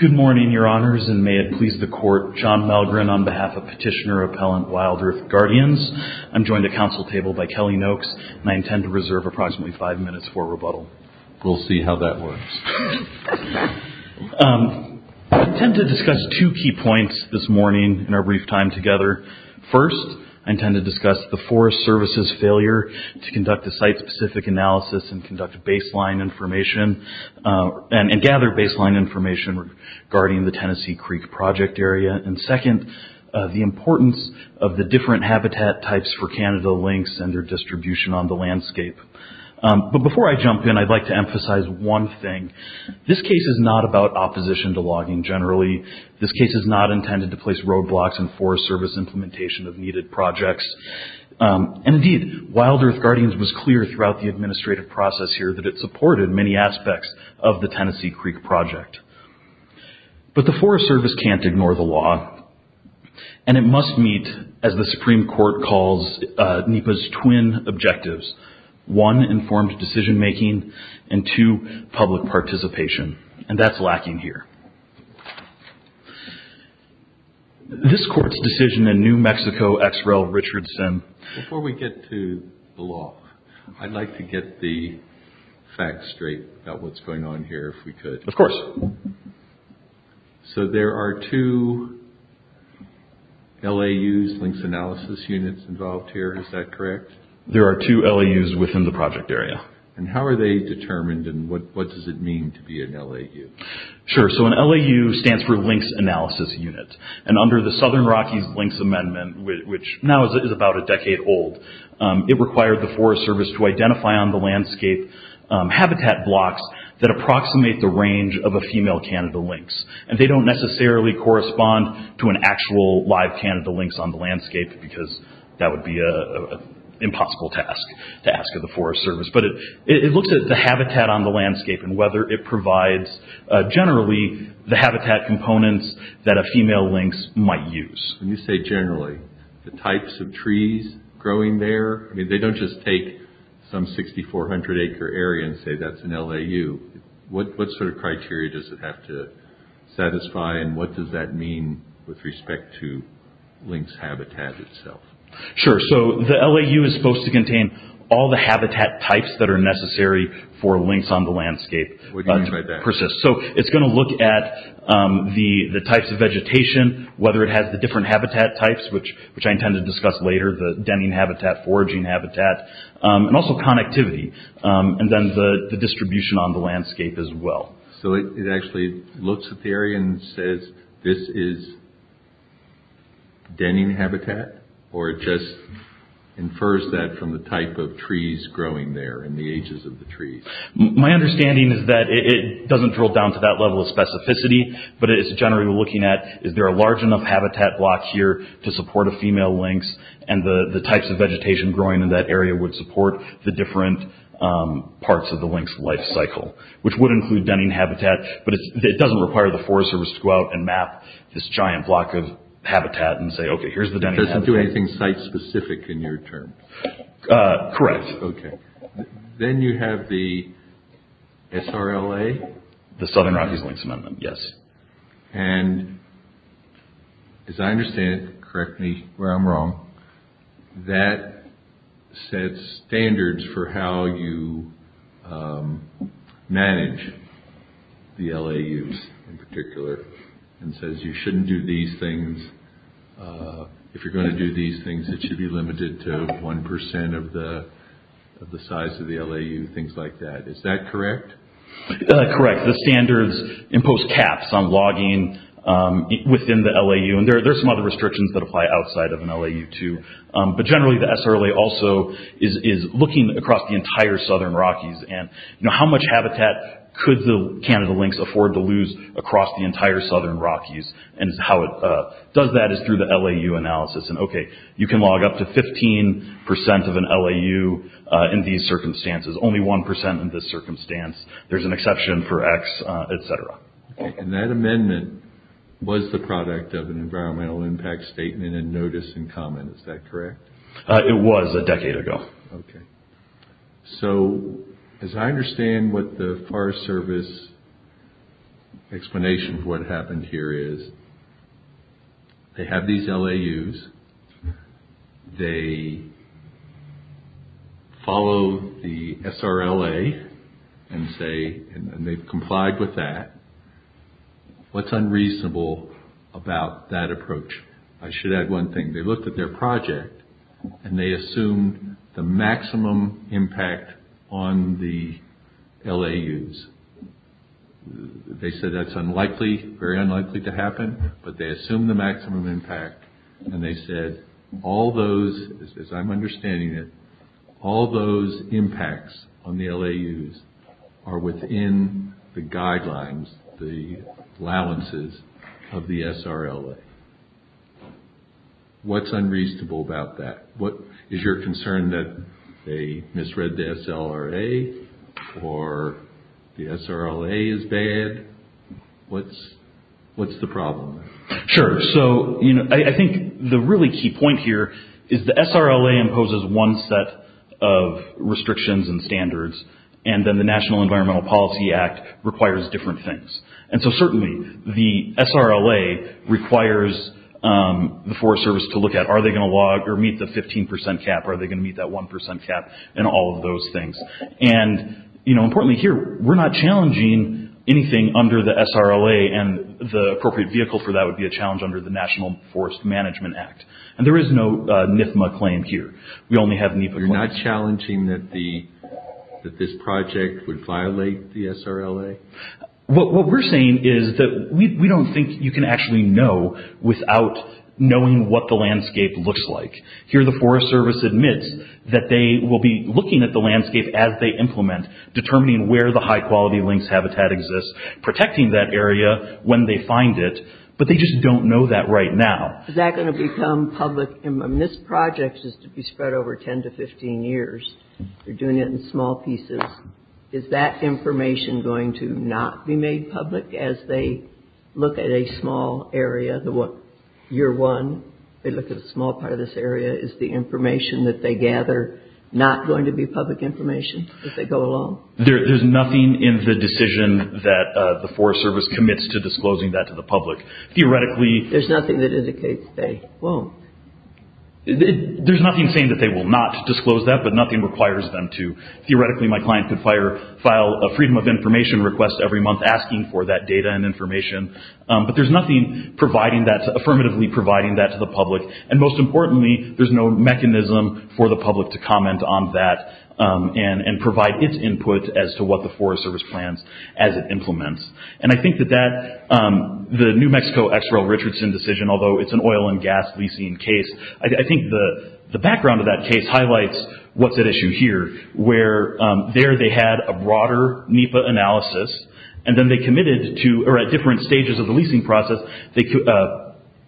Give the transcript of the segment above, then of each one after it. Good morning, Your Honors, and may it please the Court, John Malgren on behalf of Petitioner Appellant WILDEARTH GUARDIANS. I'm joined at Council Table by Kelly Noakes, and I intend to reserve approximately five minutes for rebuttal. We'll see how that works. I intend to discuss two key points this morning in our brief time together. First, I intend to discuss the Forest Service's failure to conduct a site-specific analysis and gather baseline information regarding the Tennessee Creek Project area, and second, the importance of the different habitat types for Canada lynx and their distribution on the landscape. Before I jump in, I'd like to emphasize one thing. This case is not about opposition to logging generally. This case is not intended to place roadblocks in Forest Service implementation of needed projects. Indeed, WILDEARTH GUARDIANS was clear throughout the administrative process here that it supported many aspects of the Tennessee Creek Project, but the Forest Service can't ignore the law, and it must meet, as the Supreme Court calls, NEPA's twin objectives. One, informed decision-making, and two, public participation, and that's lacking here. This Court's decision in New Mexico, X. Rel. Richard Simm. Before we get to the law, I'd like to get the facts straight about what's going on here if we could. Of course. So there are two LAUs, Lynx Analysis Units, involved here. Is that correct? There are two LAUs within the project area. How are they determined, and what does it mean to be an LAU? Sure. An LAU stands for Lynx Analysis Unit, and under the Southern Rockies Lynx Amendment, which now is about a decade old, it required the Forest Service to identify on the landscape habitat blocks that approximate the range of a female Canada lynx. They don't necessarily correspond to an actual live Canada lynx on the landscape, because that would be an impossible task to ask of the Forest Service. But it looks at the habitat on the landscape and whether it provides, generally, the habitat components that a female lynx might use. When you say generally, the types of trees growing there, they don't just take some 6,400 acre area and say that's an LAU. What sort of criteria does it have to satisfy, and what does that mean with respect to lynx habitat itself? Sure. So the LAU is supposed to contain all the habitat types that are necessary for lynx on the landscape to persist. So it's going to look at the types of vegetation, whether it has the different habitat types, which I intend to discuss later, the denning habitat, foraging habitat, and also connectivity, and then the distribution on the landscape as well. So it actually looks at the area and says, this is denning habitat, or it just infers that from the type of trees growing there and the ages of the trees? My understanding is that it doesn't drill down to that level of specificity, but it's generally looking at, is there a large enough habitat block here to support a female lynx, and the types of vegetation growing in that area would support the different parts of the denning habitat, but it doesn't require the Forest Service to go out and map this giant block of habitat and say, okay, here's the denning habitat. Does it do anything site-specific in your terms? Correct. Then you have the SRLA? The Southern Rockies Lynx Amendment, yes. And as I understand it, correct me where I'm wrong, that sets standards for how you manage the LAUs in particular, and says you shouldn't do these things, if you're going to do these things, it should be limited to 1% of the size of the LAU, things like that. Is that correct? Correct. The standards impose caps on logging within the LAU, and there are some other restrictions that apply outside of an LAU too, but generally the SRLA also is looking across the entire Southern Rockies, and how much habitat could the Canada lynx afford to lose across the entire Southern Rockies, and how it does that is through the LAU analysis, and okay, you can log up to 15% of an LAU in these circumstances, only 1% in this circumstance, there's an exception for X, et cetera. And that amendment was the product of an environmental impact statement and notice in common, is that correct? It was a decade ago. So, as I understand what the Forest Service explanation for what happened here is, they have these LAUs, they follow the SRLA, and say, and they've complied with that, what's unreasonable about that approach? I should add one thing. They looked at their project, and they assumed the maximum impact on the LAUs. They said that's unlikely, very unlikely to happen, but they assumed the maximum impact, and they said, all those, as I'm understanding it, all those impacts on the LAUs are within the guidelines, the allowances of the SRLA. What's unreasonable about that? Is your concern that they misread the SRLA, or the SRLA is bad? What's the problem? Sure. So, I think the really key point here is the SRLA imposes one set of restrictions and standards, and then the National Environmental Policy Act requires different things. So, certainly, the SRLA requires the Forest Service to look at, are they going to meet the 15% cap, are they going to meet that 1% cap, and all of those things. Importantly here, we're not challenging anything under the SRLA, and the appropriate vehicle for that would be a challenge under the National Forest Management Act. There is no NFMA claim here. We only have NEPA claims. So, you're not challenging that this project would violate the SRLA? What we're saying is that we don't think you can actually know without knowing what the landscape looks like. Here, the Forest Service admits that they will be looking at the landscape as they implement, determining where the high-quality lynx habitat exists, protecting that area when they find it, but they just don't know that right now. Is that going to become public? This project is to be spread over 10 to 15 years. They're doing it in small pieces. Is that information going to not be made public as they look at a small area, year one, they look at a small part of this area, is the information that they gather not going to be public information as they go along? There's nothing in the decision that the Forest Service commits to disclosing that to the public. Theoretically... There's nothing that indicates they won't. There's nothing saying that they will not disclose that, but nothing requires them to. Theoretically, my client could file a freedom of information request every month asking for that data and information, but there's nothing affirmatively providing that to the public. And most importantly, there's no mechanism for the public to comment on that and provide its input as to what the Forest Service plans as it implements. And I think that the New Mexico XREL Richardson decision, although it's an oil and gas leasing case, I think the background of that case highlights what's at issue here, where there they had a broader NEPA analysis, and then they committed to, or at different stages of the leasing process, they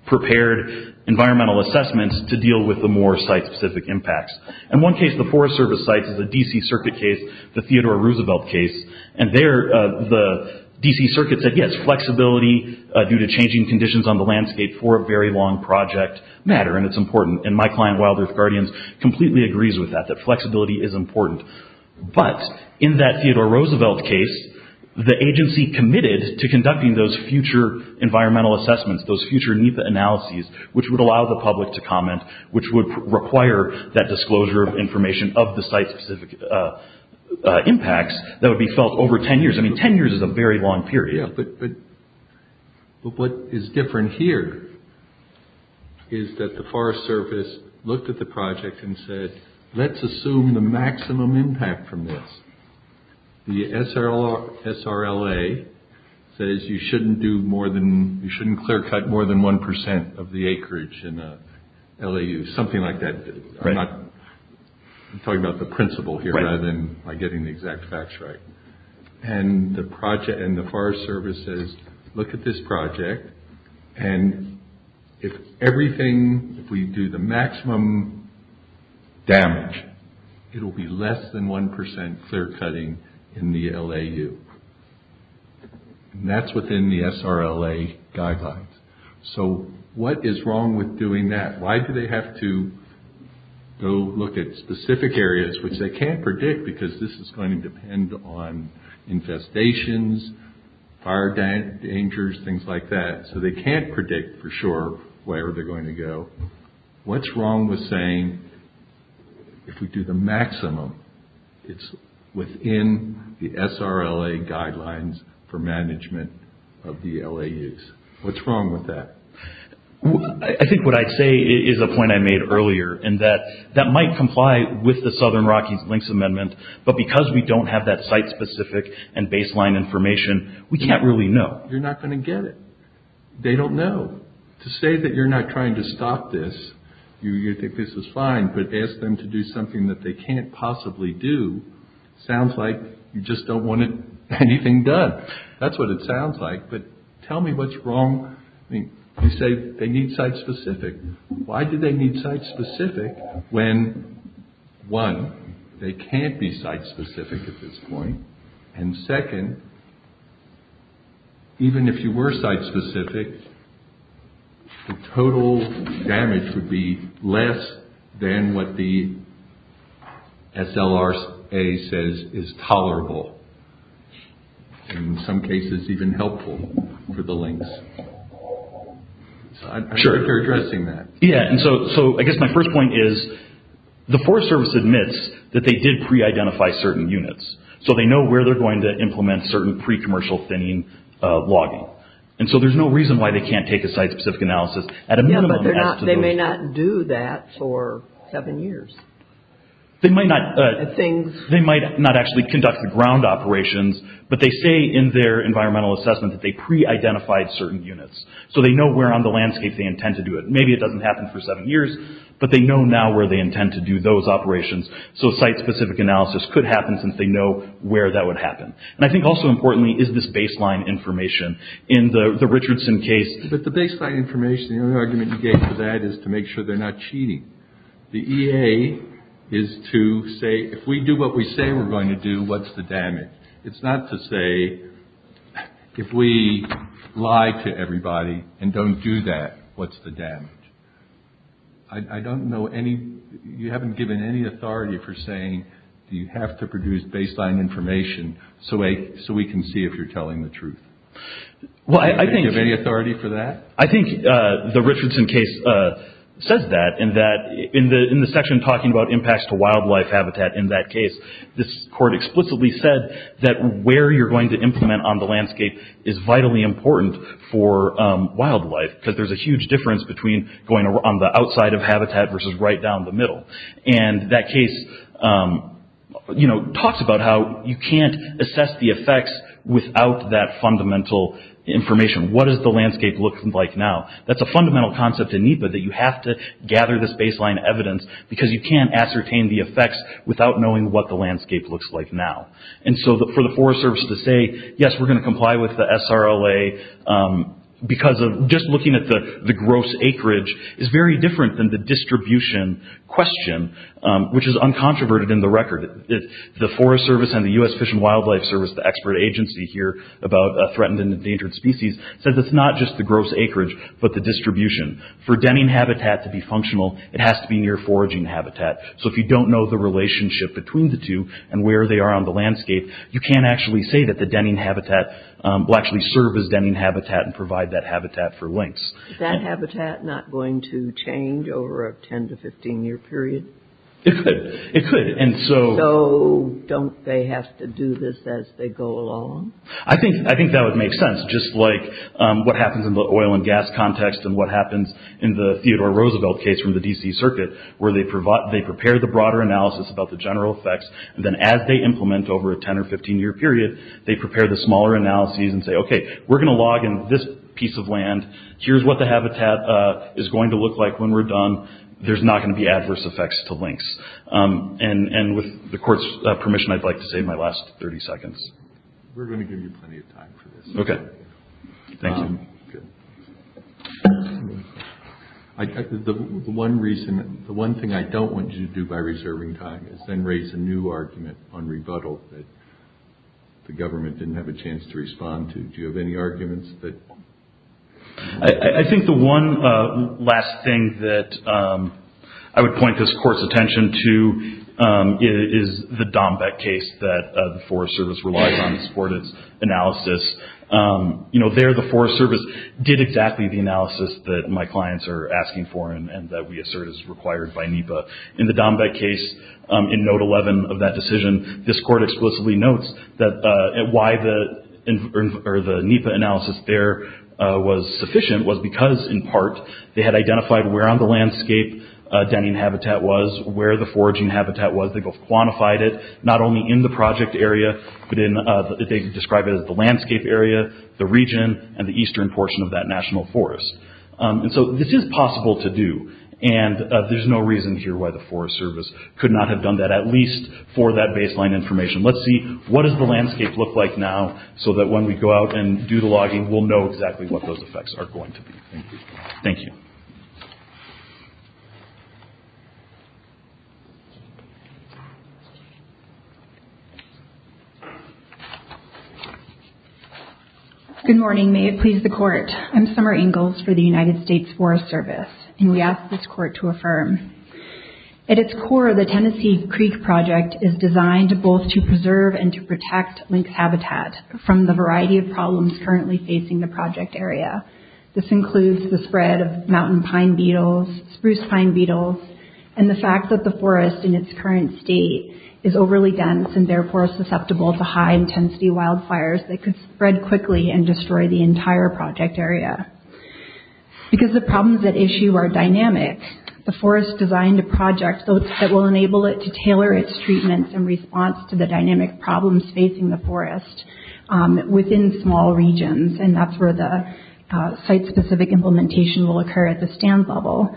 prepared environmental assessments to deal with the more site-specific impacts. In one case, the Forest Service sites is a DC circuit case, the Theodore Roosevelt case, and there the DC circuit said, yes, flexibility due to changing conditions on the landscape for a very long project matter, and it's important. And my client, Wild Earth Guardians, completely agrees with that, that flexibility is important. But, in that Theodore Roosevelt case, the agency committed to conducting those future environmental assessments, those future NEPA analyses, which would allow the public to comment, which would require that disclosure of information of the site-specific impacts that would be felt over 10 years. I mean, 10 years is a very long period. Yeah, but what is different here is that the Forest Service looked at the project and said, let's assume the maximum impact from this. The SRLA says you shouldn't do more than, you shouldn't clear-cut more than 1% of the acreage in a LAU, something like that. I'm talking about the principle here, rather than getting the exact facts right. And the project, and the Forest Service says, look at this project, and if everything, if we do the maximum damage, it'll be less than 1% clear-cutting in the LAU. And that's within the SRLA guidelines. So, what is wrong with doing that? Why do they have to go look at specific areas, which they can't predict because this is going to depend on infestations, fire dangers, things like that, so they can't predict for sure where they're going to go. What's wrong with saying, if we do the maximum, it's within the SRLA guidelines for management of the LAUs? What's wrong with that? I think what I'd say is a point I made earlier, in that that might comply with the Southern Rockies Links Amendment, but because we don't have that site-specific and baseline information, we can't really know. You're not going to get it. They don't know. To say that you're not trying to stop this, you think this is fine, but ask them to do something that they can't possibly do, sounds like you just don't want anything done. That's what it sounds like, but tell me what's wrong. You say they need site-specific. Why do they need site-specific when, one, they can't be site-specific at this point, and second, even if you were site-specific, the total damage would be less than what the in some cases even helpful for the links. I'm sure you're addressing that. Yeah. I guess my first point is, the Forest Service admits that they did pre-identify certain units, so they know where they're going to implement certain pre-commercial thinning logging. There's no reason why they can't take a site-specific analysis at a minimum. They may not do that for seven years. They might not actually conduct the ground operations, but they say in their environmental assessment that they pre-identified certain units, so they know where on the landscape they intend to do it. Maybe it doesn't happen for seven years, but they know now where they intend to do those operations, so a site-specific analysis could happen since they know where that would happen. I think also importantly is this baseline information. In the Richardson case, the baseline information, the only argument you get for that is to make sure they're not cheating. The EA is to say, if we do what we say we're going to do, what's the damage? It's not to say, if we lie to everybody and don't do that, what's the damage? I don't know any... You haven't given any authority for saying, you have to produce baseline information so we can see if you're telling the truth. Do you have any authority for that? I think the Richardson case says that. In the section talking about impacts to wildlife habitat in that case, this court explicitly said that where you're going to implement on the landscape is vitally important for wildlife, because there's a huge difference between going on the outside of habitat versus right down the middle. That case talks about how you can't assess the effects without that fundamental information. What does the landscape look like now? That's a fundamental concept in NEPA, that you have to gather this baseline evidence because you can't ascertain the effects without knowing what the landscape looks like now. For the Forest Service to say, yes, we're going to comply with the SRLA because of just looking at the gross acreage is very different than the distribution question, which is uncontroverted in the record. The Forest Service and the U.S. Fish and Wildlife Service, the expert agency here about threatened and endangered species, says it's not just the gross acreage, but the distribution. For denning habitat to be functional, it has to be near foraging habitat. If you don't know the relationship between the two and where they are on the landscape, you can't actually say that the denning habitat will actually serve as denning habitat and provide that habitat for lynx. Is that habitat not going to change over a 10 to 15 year period? It could. Don't they have to do this as they go along? I think that would make sense. Just like what happens in the oil and gas context and what happens in the Theodore Roosevelt case from the D.C. Circuit, where they prepare the broader analysis about the general effects, and then as they implement over a 10 or 15 year period, they prepare the smaller analyses and say, okay, we're going to log in this piece of land. Here's what the habitat is going to look like when we're done. There's not going to be adverse effects to lynx. With the court's permission, I'd like to save my last 30 seconds. We're going to give you plenty of time for this. Okay. Thank you. The one thing I don't want you to do by reserving time is then raise a new argument on rebuttal that the government didn't have a chance to respond to. Do you have any arguments? I think the one last thing that I would point this court's attention to is the Dombeck case that the Forest Service relies on to support its analysis. There, the Forest Service did exactly the analysis that my clients are asking for and that we assert is required by NEPA. In the Dombeck case, in note 11 of that decision, this court explicitly notes that why the NEPA analysis there was sufficient was because, in part, they had identified where on the landscape denning habitat was, where the foraging habitat was. They both quantified it, not only in the project area, but they described it as the landscape area, the region, and the eastern portion of that national forest. This is possible to do. There's no reason here why the Forest Service could not have done that, at least for that baseline information. Let's see what does the landscape look like now so that when we go out and do the logging, we'll know exactly what those effects are going to be. Thank you. Good morning. May it please the court. I'm Summer Ingalls for the United States Forest Service, and we ask this court to affirm. At its core, the Tennessee Creek Project is designed both to preserve and to protect lynx habitat from the variety of problems currently facing the project area. This includes the spread of mountain pine beetles, spruce pine beetles, and the fact that the forest in its current state is overly dense and therefore susceptible to high intensity wildfires that could spread quickly and destroy the entire project area. Because the problems at issue are dynamic, the forest designed a project that will enable it to tailor its treatments in response to the dynamic problems facing the forest within small regions, and that's where the site-specific implementation will occur at the stand level.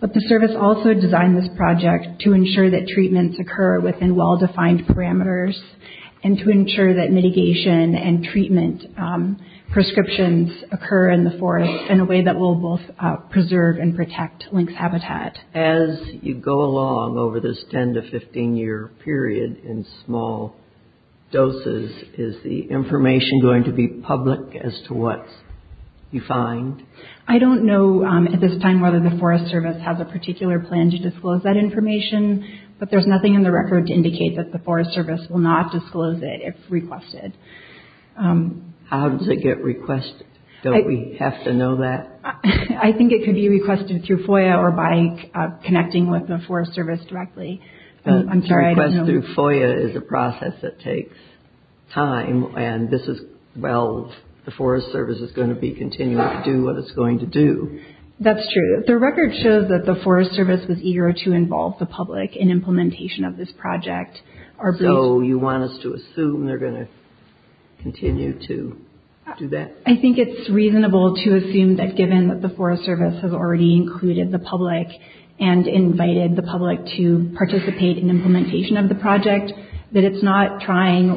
But the service also designed this project to ensure that treatments occur within well-defined parameters and to ensure that mitigation and treatment prescriptions occur in the forest in a way that will both preserve and protect lynx habitat. As you go along over this 10 to 15 year period in small doses, is the information going to be public as to what you find? I don't know at this time whether the Forest Service has a particular plan to disclose that information, but there's nothing in the record to indicate that the Forest Service will not disclose it if requested. How does it get requested? Don't we have to know that? I think it could be requested through FOIA or by connecting with the Forest Service directly. I'm sorry, I don't know. The request through FOIA is a process that takes time, and this is, well, the Forest Service knows what it's going to do. That's true. The record shows that the Forest Service was eager to involve the public in implementation of this project. So you want us to assume they're going to continue to do that? I think it's reasonable to assume that given that the Forest Service has already included the public and invited the public to participate in implementation of the project, that it's not trying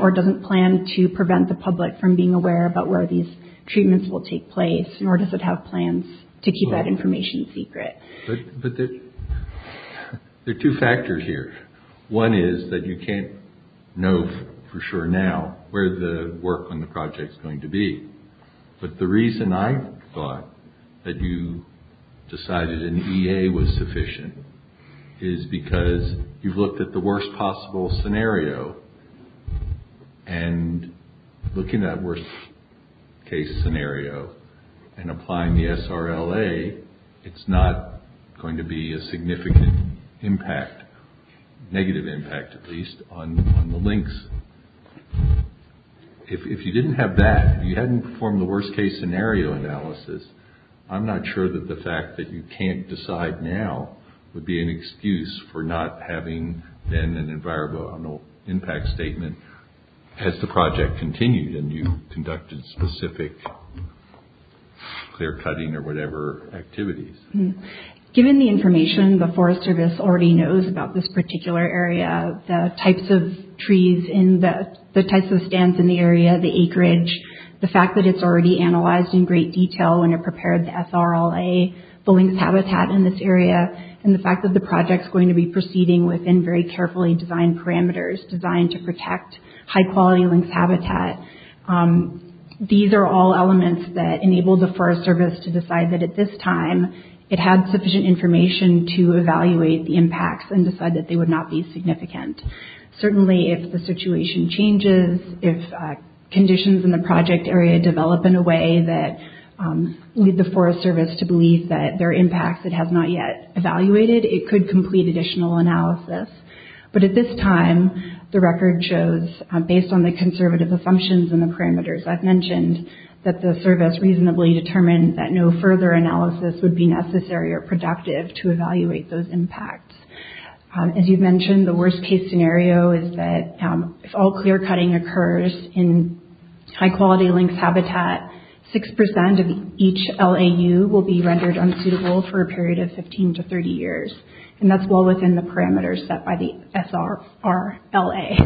or doesn't plan to prevent the public from being aware about where these or does it have plans to keep that information secret? But there are two factors here. One is that you can't know for sure now where the work on the project is going to be, but the reason I thought that you decided an EA was sufficient is because you've looked at the worst possible scenario and looking at worst case scenario and applying the SRLA, it's not going to be a significant impact, negative impact at least, on the links. If you didn't have that, if you hadn't performed the worst case scenario analysis, I'm not sure that the fact that you can't decide now would be an excuse for not having then an environmental impact statement as the project continued and you conducted specific clear cutting or whatever activities. Given the information the Forest Service already knows about this particular area, the types of trees in the, the types of stands in the area, the acreage, the fact that it's already analyzed in great detail when it prepared the SRLA, the links habitat in this area, and the fact that the project's going to be proceeding within very carefully designed parameters, designed to protect high quality links habitat, these are all elements that enable the Forest Service to decide that at this time it had sufficient information to evaluate the impacts and decide that they would not be significant. Certainly if the situation changes, if conditions in the project area develop in a way that lead the Forest Service to believe that there are impacts it has not yet evaluated, it could complete additional analysis. But at this time, the record shows, based on the conservative assumptions and the parameters I've mentioned, that the Service reasonably determined that no further analysis would be necessary or productive to evaluate those impacts. As you've mentioned, the worst case scenario is that if all clear-cutting occurs in high quality links habitat, 6% of each LAU will be rendered unsuitable for a period of 15 to 30 years. And that's well within the parameters set by the SRLA.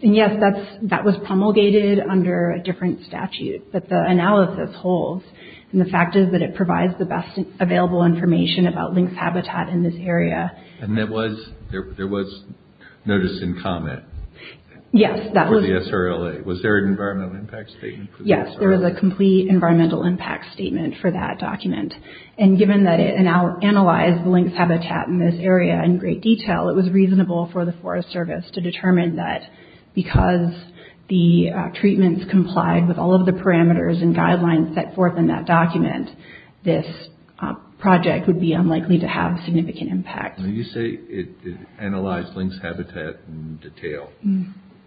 And yes, that's, that was promulgated under a different statute, but the analysis holds. And the fact is that it provides the best available information about links habitat in this area. And there was notice and comment? Yes. For the SRLA. Was there an environmental impact statement for the SRLA? Yes, there was a complete environmental impact statement for that document. And given that it analyzed the links habitat in this area in great detail, it was reasonable for the Forest Service to determine that because the treatments complied with all of the parameters and guidelines set forth in that document, this project would be unlikely to have significant impact. When you say it analyzed links habitat in detail,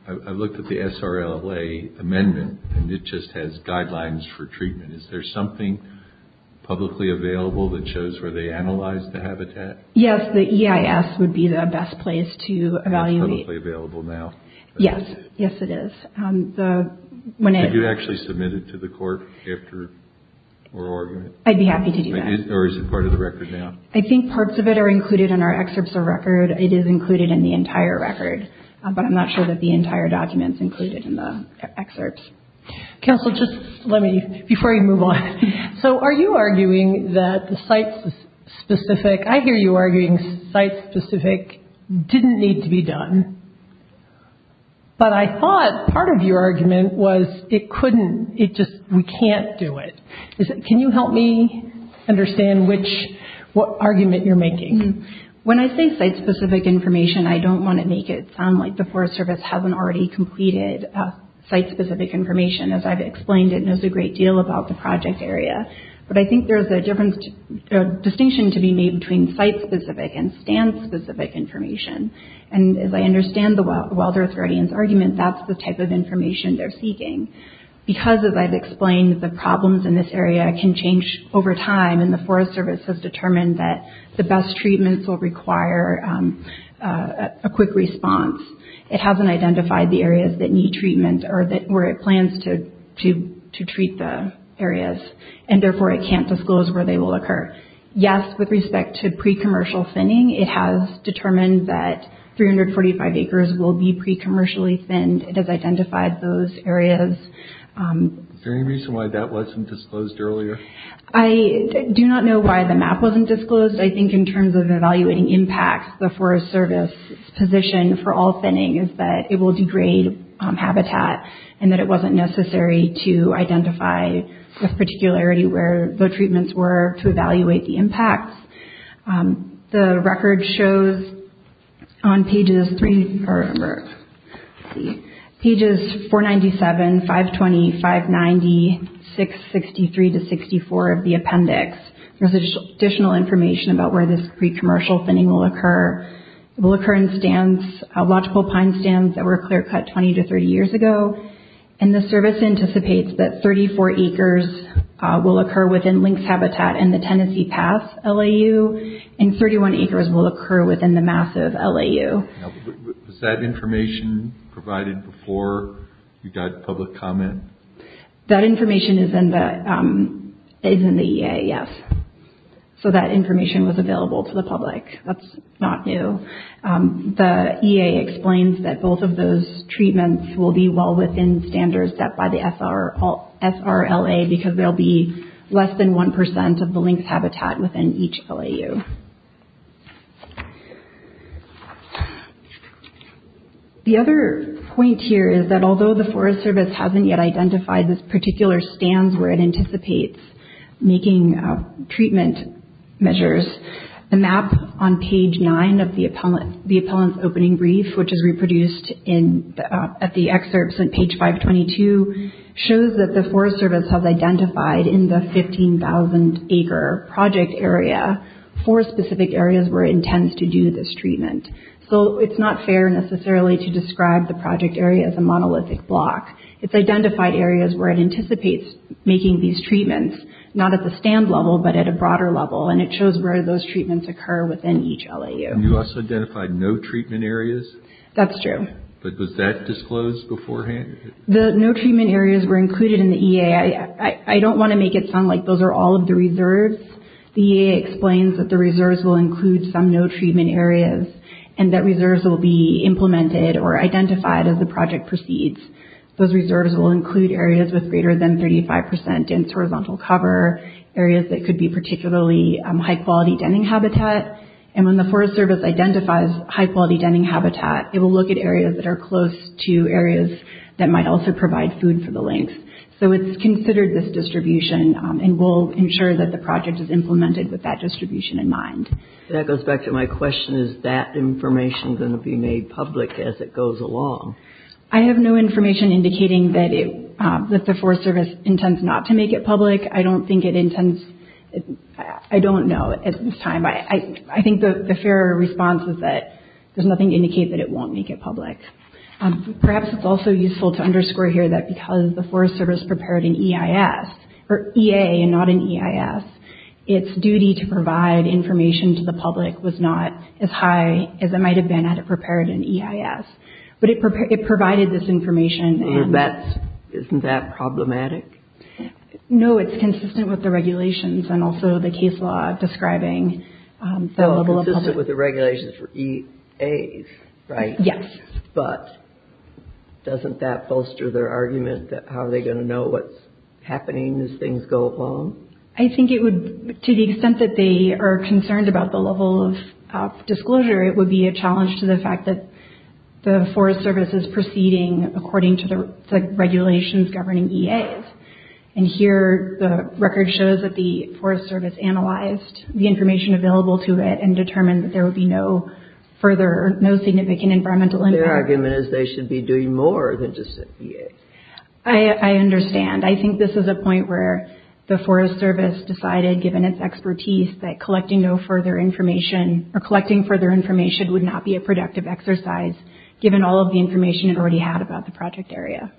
I looked at the SRLA amendment and it just has guidelines for treatment. Is there something publicly available that shows where they analyzed the habitat? Yes, the EIS would be the best place to evaluate. It's publicly available now? Yes, yes it is. Could you actually submit it to the court after our argument? I'd be happy to do that. Or is it part of the record now? I think parts of it are included in our excerpts of record. It is included in the entire record. But I'm not sure that the entire document is included in the excerpts. Counsel, just let me, before you move on. So are you arguing that the site-specific, I hear you arguing site-specific didn't need to be done. But I thought part of your argument was it couldn't, it just, we can't do it. Can you help me understand which, what argument you're making? When I say site-specific information, I don't want to make it sound like the Forest Service hasn't already completed site-specific information. As I've explained, it knows a great deal about the project area. But I think there's a difference, a distinction to be made between site-specific and stand-specific information. And as I understand the Wild Earth Guardians argument, that's the type of information they're seeking. Because, as I've explained, the problems in this area can change over time, and the Forest Service has determined that the best treatments will require a quick response. It hasn't identified the areas that need treatment or where it plans to treat the areas. And therefore, it can't disclose where they will occur. Yes, with respect to pre-commercial thinning, it has determined that 345 acres will be pre-commercially thinned. It has identified those areas. Is there any reason why that wasn't disclosed earlier? I do not know why the map wasn't disclosed. I think in terms of evaluating impacts, the Forest Service's position for all thinning is that it will degrade habitat, and that it wasn't necessary to identify with particularity where the treatments were to evaluate the impacts. The record shows on pages 497, 520, 590, 663 to 64 of the appendix. There's additional information about where this pre-commercial thinning will occur. It will occur in logical pine stands that were clear-cut 20 to 30 years ago, and the Service anticipates that 34 acres will occur within Lynx Habitat and the Tennessee Pass LAU, and 31 acres will occur within the massive LAU. Was that information provided before you got public comment? That information is in the EA, yes. So that information was available to the public. That's not new. The EA explains that both of those treatments will be well within standards set by the SRLA because they'll be less than 1% of the Lynx Habitat within each LAU. The other point here is that although the Forest Service hasn't yet identified this particular stand where it anticipates making treatment measures, the map on page 9 of the appellant's opening brief, which is reproduced at the excerpts on page 522, shows that the Forest Service has identified in the 15,000 acre project area four specific areas where it intends to do this treatment. So it's not fair necessarily to describe the project area as a monolithic block. It's identified areas where it anticipates making these treatments, not at the stand level but at a broader level, and it shows where those treatments occur within each LAU. And you also identified no treatment areas? That's true. But was that disclosed beforehand? The no treatment areas were included in the EA. I don't want to make it sound like those are all of the reserves. The EA explains that the reserves will include some no treatment areas and that reserves will be implemented or identified as the project proceeds. Those reserves will include areas with greater than 35 percent dense horizontal cover, areas that could be particularly high-quality denning habitat, and when the Forest Service identifies high-quality denning habitat, it will look at areas that are close to areas that might also provide food for the lynx. So it's considered this distribution and we'll ensure that the project is implemented with that distribution in mind. That goes back to my question, is that information going to be made public as it goes along? I have no information indicating that the Forest Service intends not to make it public. I don't think it intends, I don't know at this time. I think the fair response is that there's nothing to indicate that it won't make it public. Perhaps it's also useful to underscore here that because the Forest Service prepared an EIS, or EA and not an EIS, its duty to provide information to the public was not as high as it might have been had it prepared an EIS. But it provided this information. Isn't that problematic? No, it's consistent with the regulations and also the case law describing the level of public. So it's consistent with the regulations for EAs, right? Yes. But doesn't that bolster their argument that how are they going to know what's happening as things go along? I think it would, to the extent that they are concerned about the level of disclosure, it would be a challenge to the fact that the Forest Service is proceeding according to the regulations governing EAs. And here the record shows that the Forest Service analyzed the information available to it and determined that there would be no further, no significant environmental impact. Their argument is they should be doing more than just EAs. I understand. I think this is a point where the Forest Service decided, given its expertise, that collecting further information would not be a productive exercise given all of the information it already had about the project area.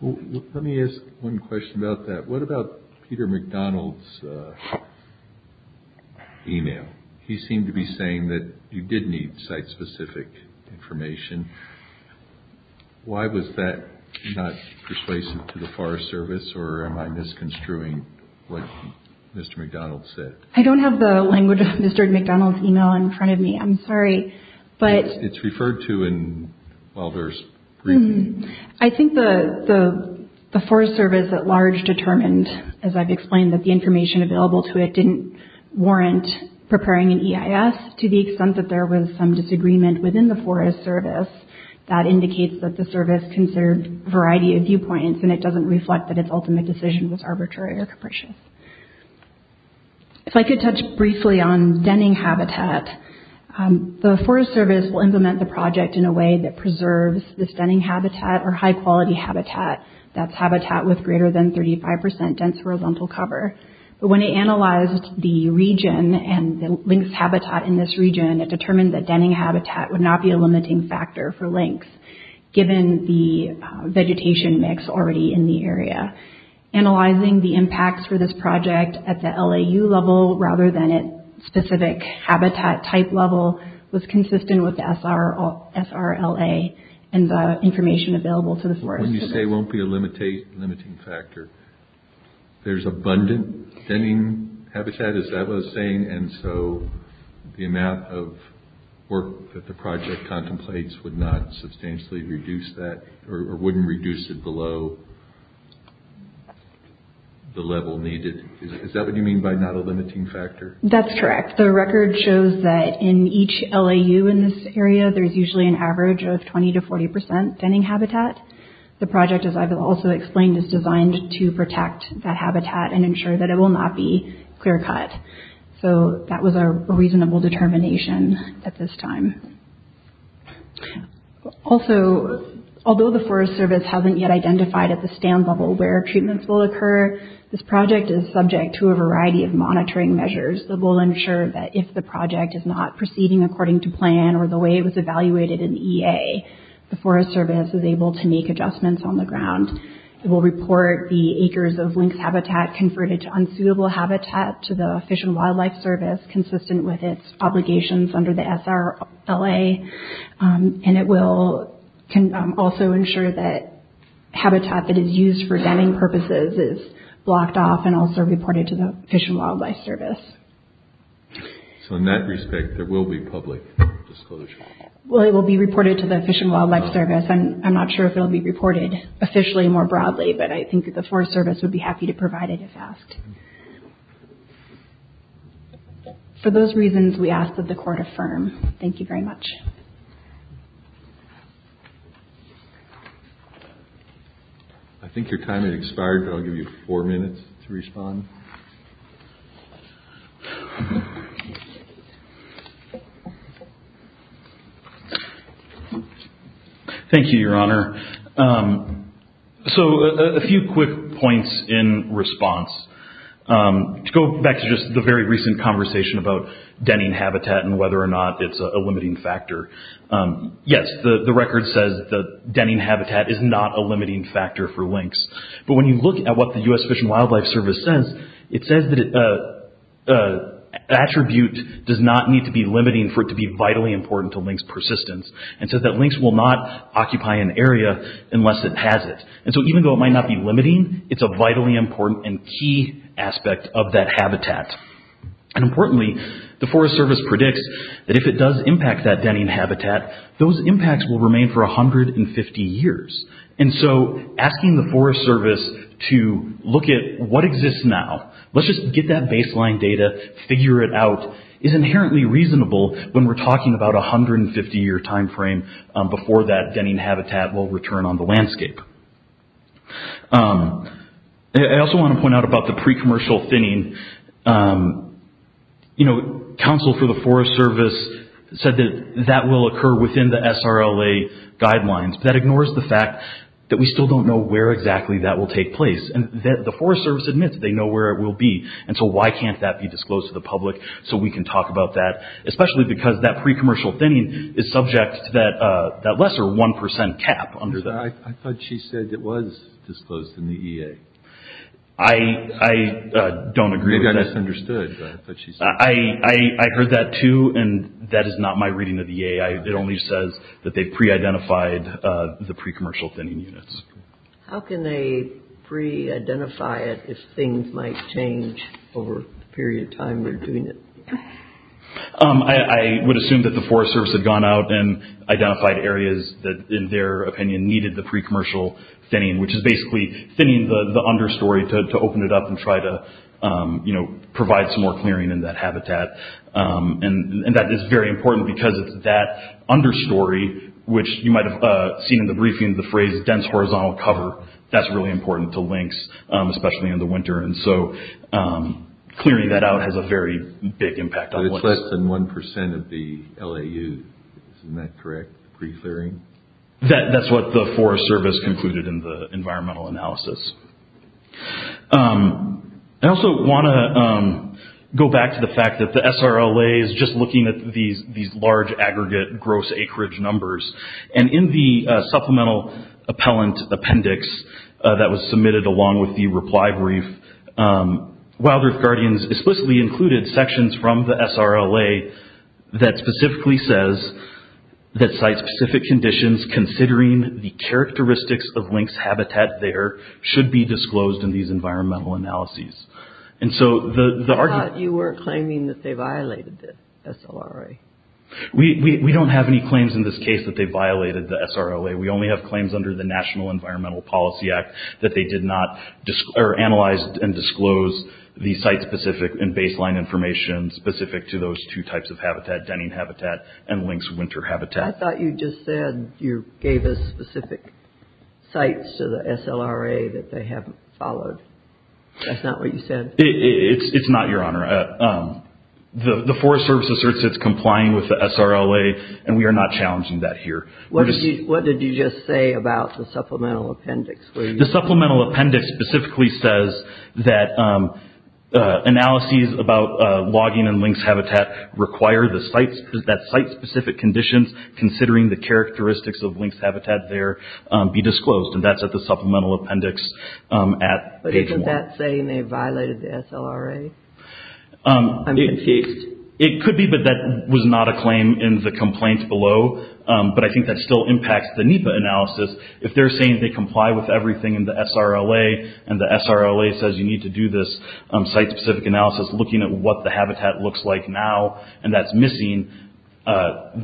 Let me ask one question about that. What about Peter McDonald's email? He seemed to be saying that you did need site-specific information. Why was that not persuasive to the Forest Service? Or am I misconstruing what Mr. McDonald said? I don't have the language of Mr. McDonald's email in front of me. I'm sorry. It's referred to in Wilder's briefing. I think the Forest Service at large determined, as I've explained, that the information available to it didn't warrant preparing an EIS to the extent that there was some disagreement within the Forest Service that indicates that the Service considered a variety of viewpoints and it doesn't reflect that its ultimate decision was arbitrary or capricious. If I could touch briefly on denning habitat, the Forest Service will implement the project in a way that preserves this denning habitat or high-quality habitat, that's habitat with greater than 35 percent dense horizontal cover. But when they analyzed the region and the lynx habitat in this region, it determined that denning habitat would not be a limiting factor for lynx given the vegetation mix already in the area. Analyzing the impacts for this project at the LAU level rather than at specific habitat type level was consistent with the SRLA and the information available to the Forest Service. When you say it won't be a limiting factor, there's abundant denning habitat, as that was saying, and so the amount of work that the project contemplates would not substantially reduce that or wouldn't reduce it below the level needed. Is that what you mean by not a limiting factor? That's correct. The record shows that in each LAU in this area, there's usually an average of 20 to 40 percent denning habitat. The project, as I've also explained, is designed to protect that habitat and ensure that it will not be clear-cut. So that was a reasonable determination at this time. Also, although the Forest Service hasn't yet identified at the stand level where treatments will occur, this project is subject to a variety of monitoring measures that will ensure that if the project is not proceeding according to plan or the way it was evaluated in the EA, the Forest Service is able to make adjustments on the ground. It will report the acres of lynx habitat converted to unsuitable habitat to the Fish and Wildlife Service consistent with its obligations under the SRLA, and it will also ensure that habitat that is used for denning purposes is blocked off and also reported to the Fish and Wildlife Service. So in that respect, there will be public disclosure? Well, it will be reported to the Fish and Wildlife Service. I'm not sure if it will be reported officially more broadly, but I think that the Forest Service would be happy to provide it if asked. For those reasons, we ask that the Court affirm. Thank you very much. I think your time has expired, but I'll give you four minutes to respond. Thank you, Your Honor. So a few quick points in response. To go back to just the very recent conversation about denning habitat and whether or not it's a limiting factor. Yes, the record says that denning habitat is not a limiting factor for lynx, but when you look at what the U.S. Fish and Wildlife Service says, it says that an attribute does not need to be limiting for it to be vitally important to lynx persistence. It says that lynx will not occupy an area unless it has it. So even though it might not be limiting, it's a vitally important and key aspect of that habitat. Importantly, the Forest Service predicts that if it does impact that denning habitat, those impacts will remain for 150 years. So asking the Forest Service to look at what exists now, let's just get that baseline data, figure it out, is inherently reasonable when we're talking about a 150-year time frame before that denning habitat will return on the landscape. I also want to point out about the pre-commercial thinning. Council for the Forest Service said that that will occur within the SRLA guidelines, but that ignores the fact that we still don't know where exactly that will take place. The Forest Service admits they know where it will be, and so why can't that be disclosed to the public so we can talk about that, especially because that pre-commercial thinning is subject to that lesser 1% cap. I thought she said it was disclosed in the EA. I don't agree with that. I think I misunderstood. I heard that too, and that is not my reading of the EA. It only says that they pre-identified the pre-commercial thinning units. How can they pre-identify it if things might change over the period of time they're doing it? I would assume that the Forest Service had gone out and identified areas that, in their opinion, needed the pre-commercial thinning, which is basically thinning the understory to open it up and try to provide some more clearing in that habitat. That is very important because it's that understory, which you might have seen in the briefing the phrase dense horizontal cover. That's really important to lynx, especially in the winter. Clearing that out has a very big impact on lynx. But it's less than 1% of the LAU. Isn't that correct? Pre-clearing? That's what the Forest Service concluded in the environmental analysis. I also want to go back to the fact that the SRLA is just looking at these large, aggregate, gross acreage numbers. In the supplemental appellant appendix that was submitted along with the reply brief, Wild Earth Guardians explicitly included sections from the SRLA that specifically says that site-specific conditions, considering the characteristics of lynx habitat there, should be disclosed in these environmental analyses. I thought you were claiming that they violated the SLRA. We don't have any claims in this case that they violated the SRLA. We only have claims under the National Environmental Policy Act that they did not analyze and disclose the site-specific and baseline information specific to those two types of habitat, denning habitat and lynx winter habitat. I thought you just said you gave us specific sites to the SLRA that they haven't followed. That's not what you said. It's not, Your Honor. The Forest Service asserts it's complying with the SRLA, and we are not challenging that here. What did you just say about the supplemental appendix? The supplemental appendix specifically says that analyses about logging and lynx habitat require that site-specific conditions, considering the characteristics of lynx habitat there, be disclosed, and that's at the supplemental appendix at page one. Isn't that saying they violated the SLRA? I'm confused. It could be, but that was not a claim in the complaint below, but I think that still impacts the NEPA analysis. If they're saying they comply with everything in the SRLA, and the SRLA says you need to do this site-specific analysis looking at what the habitat looks like now and that's missing,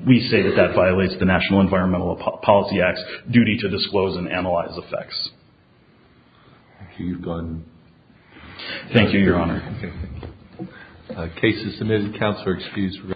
we say that that violates the National Environmental Policy Act's duty to disclose and analyze effects. Okay, you've gone. Thank you, Your Honor. Okay. Cases submitted to counsel are excused.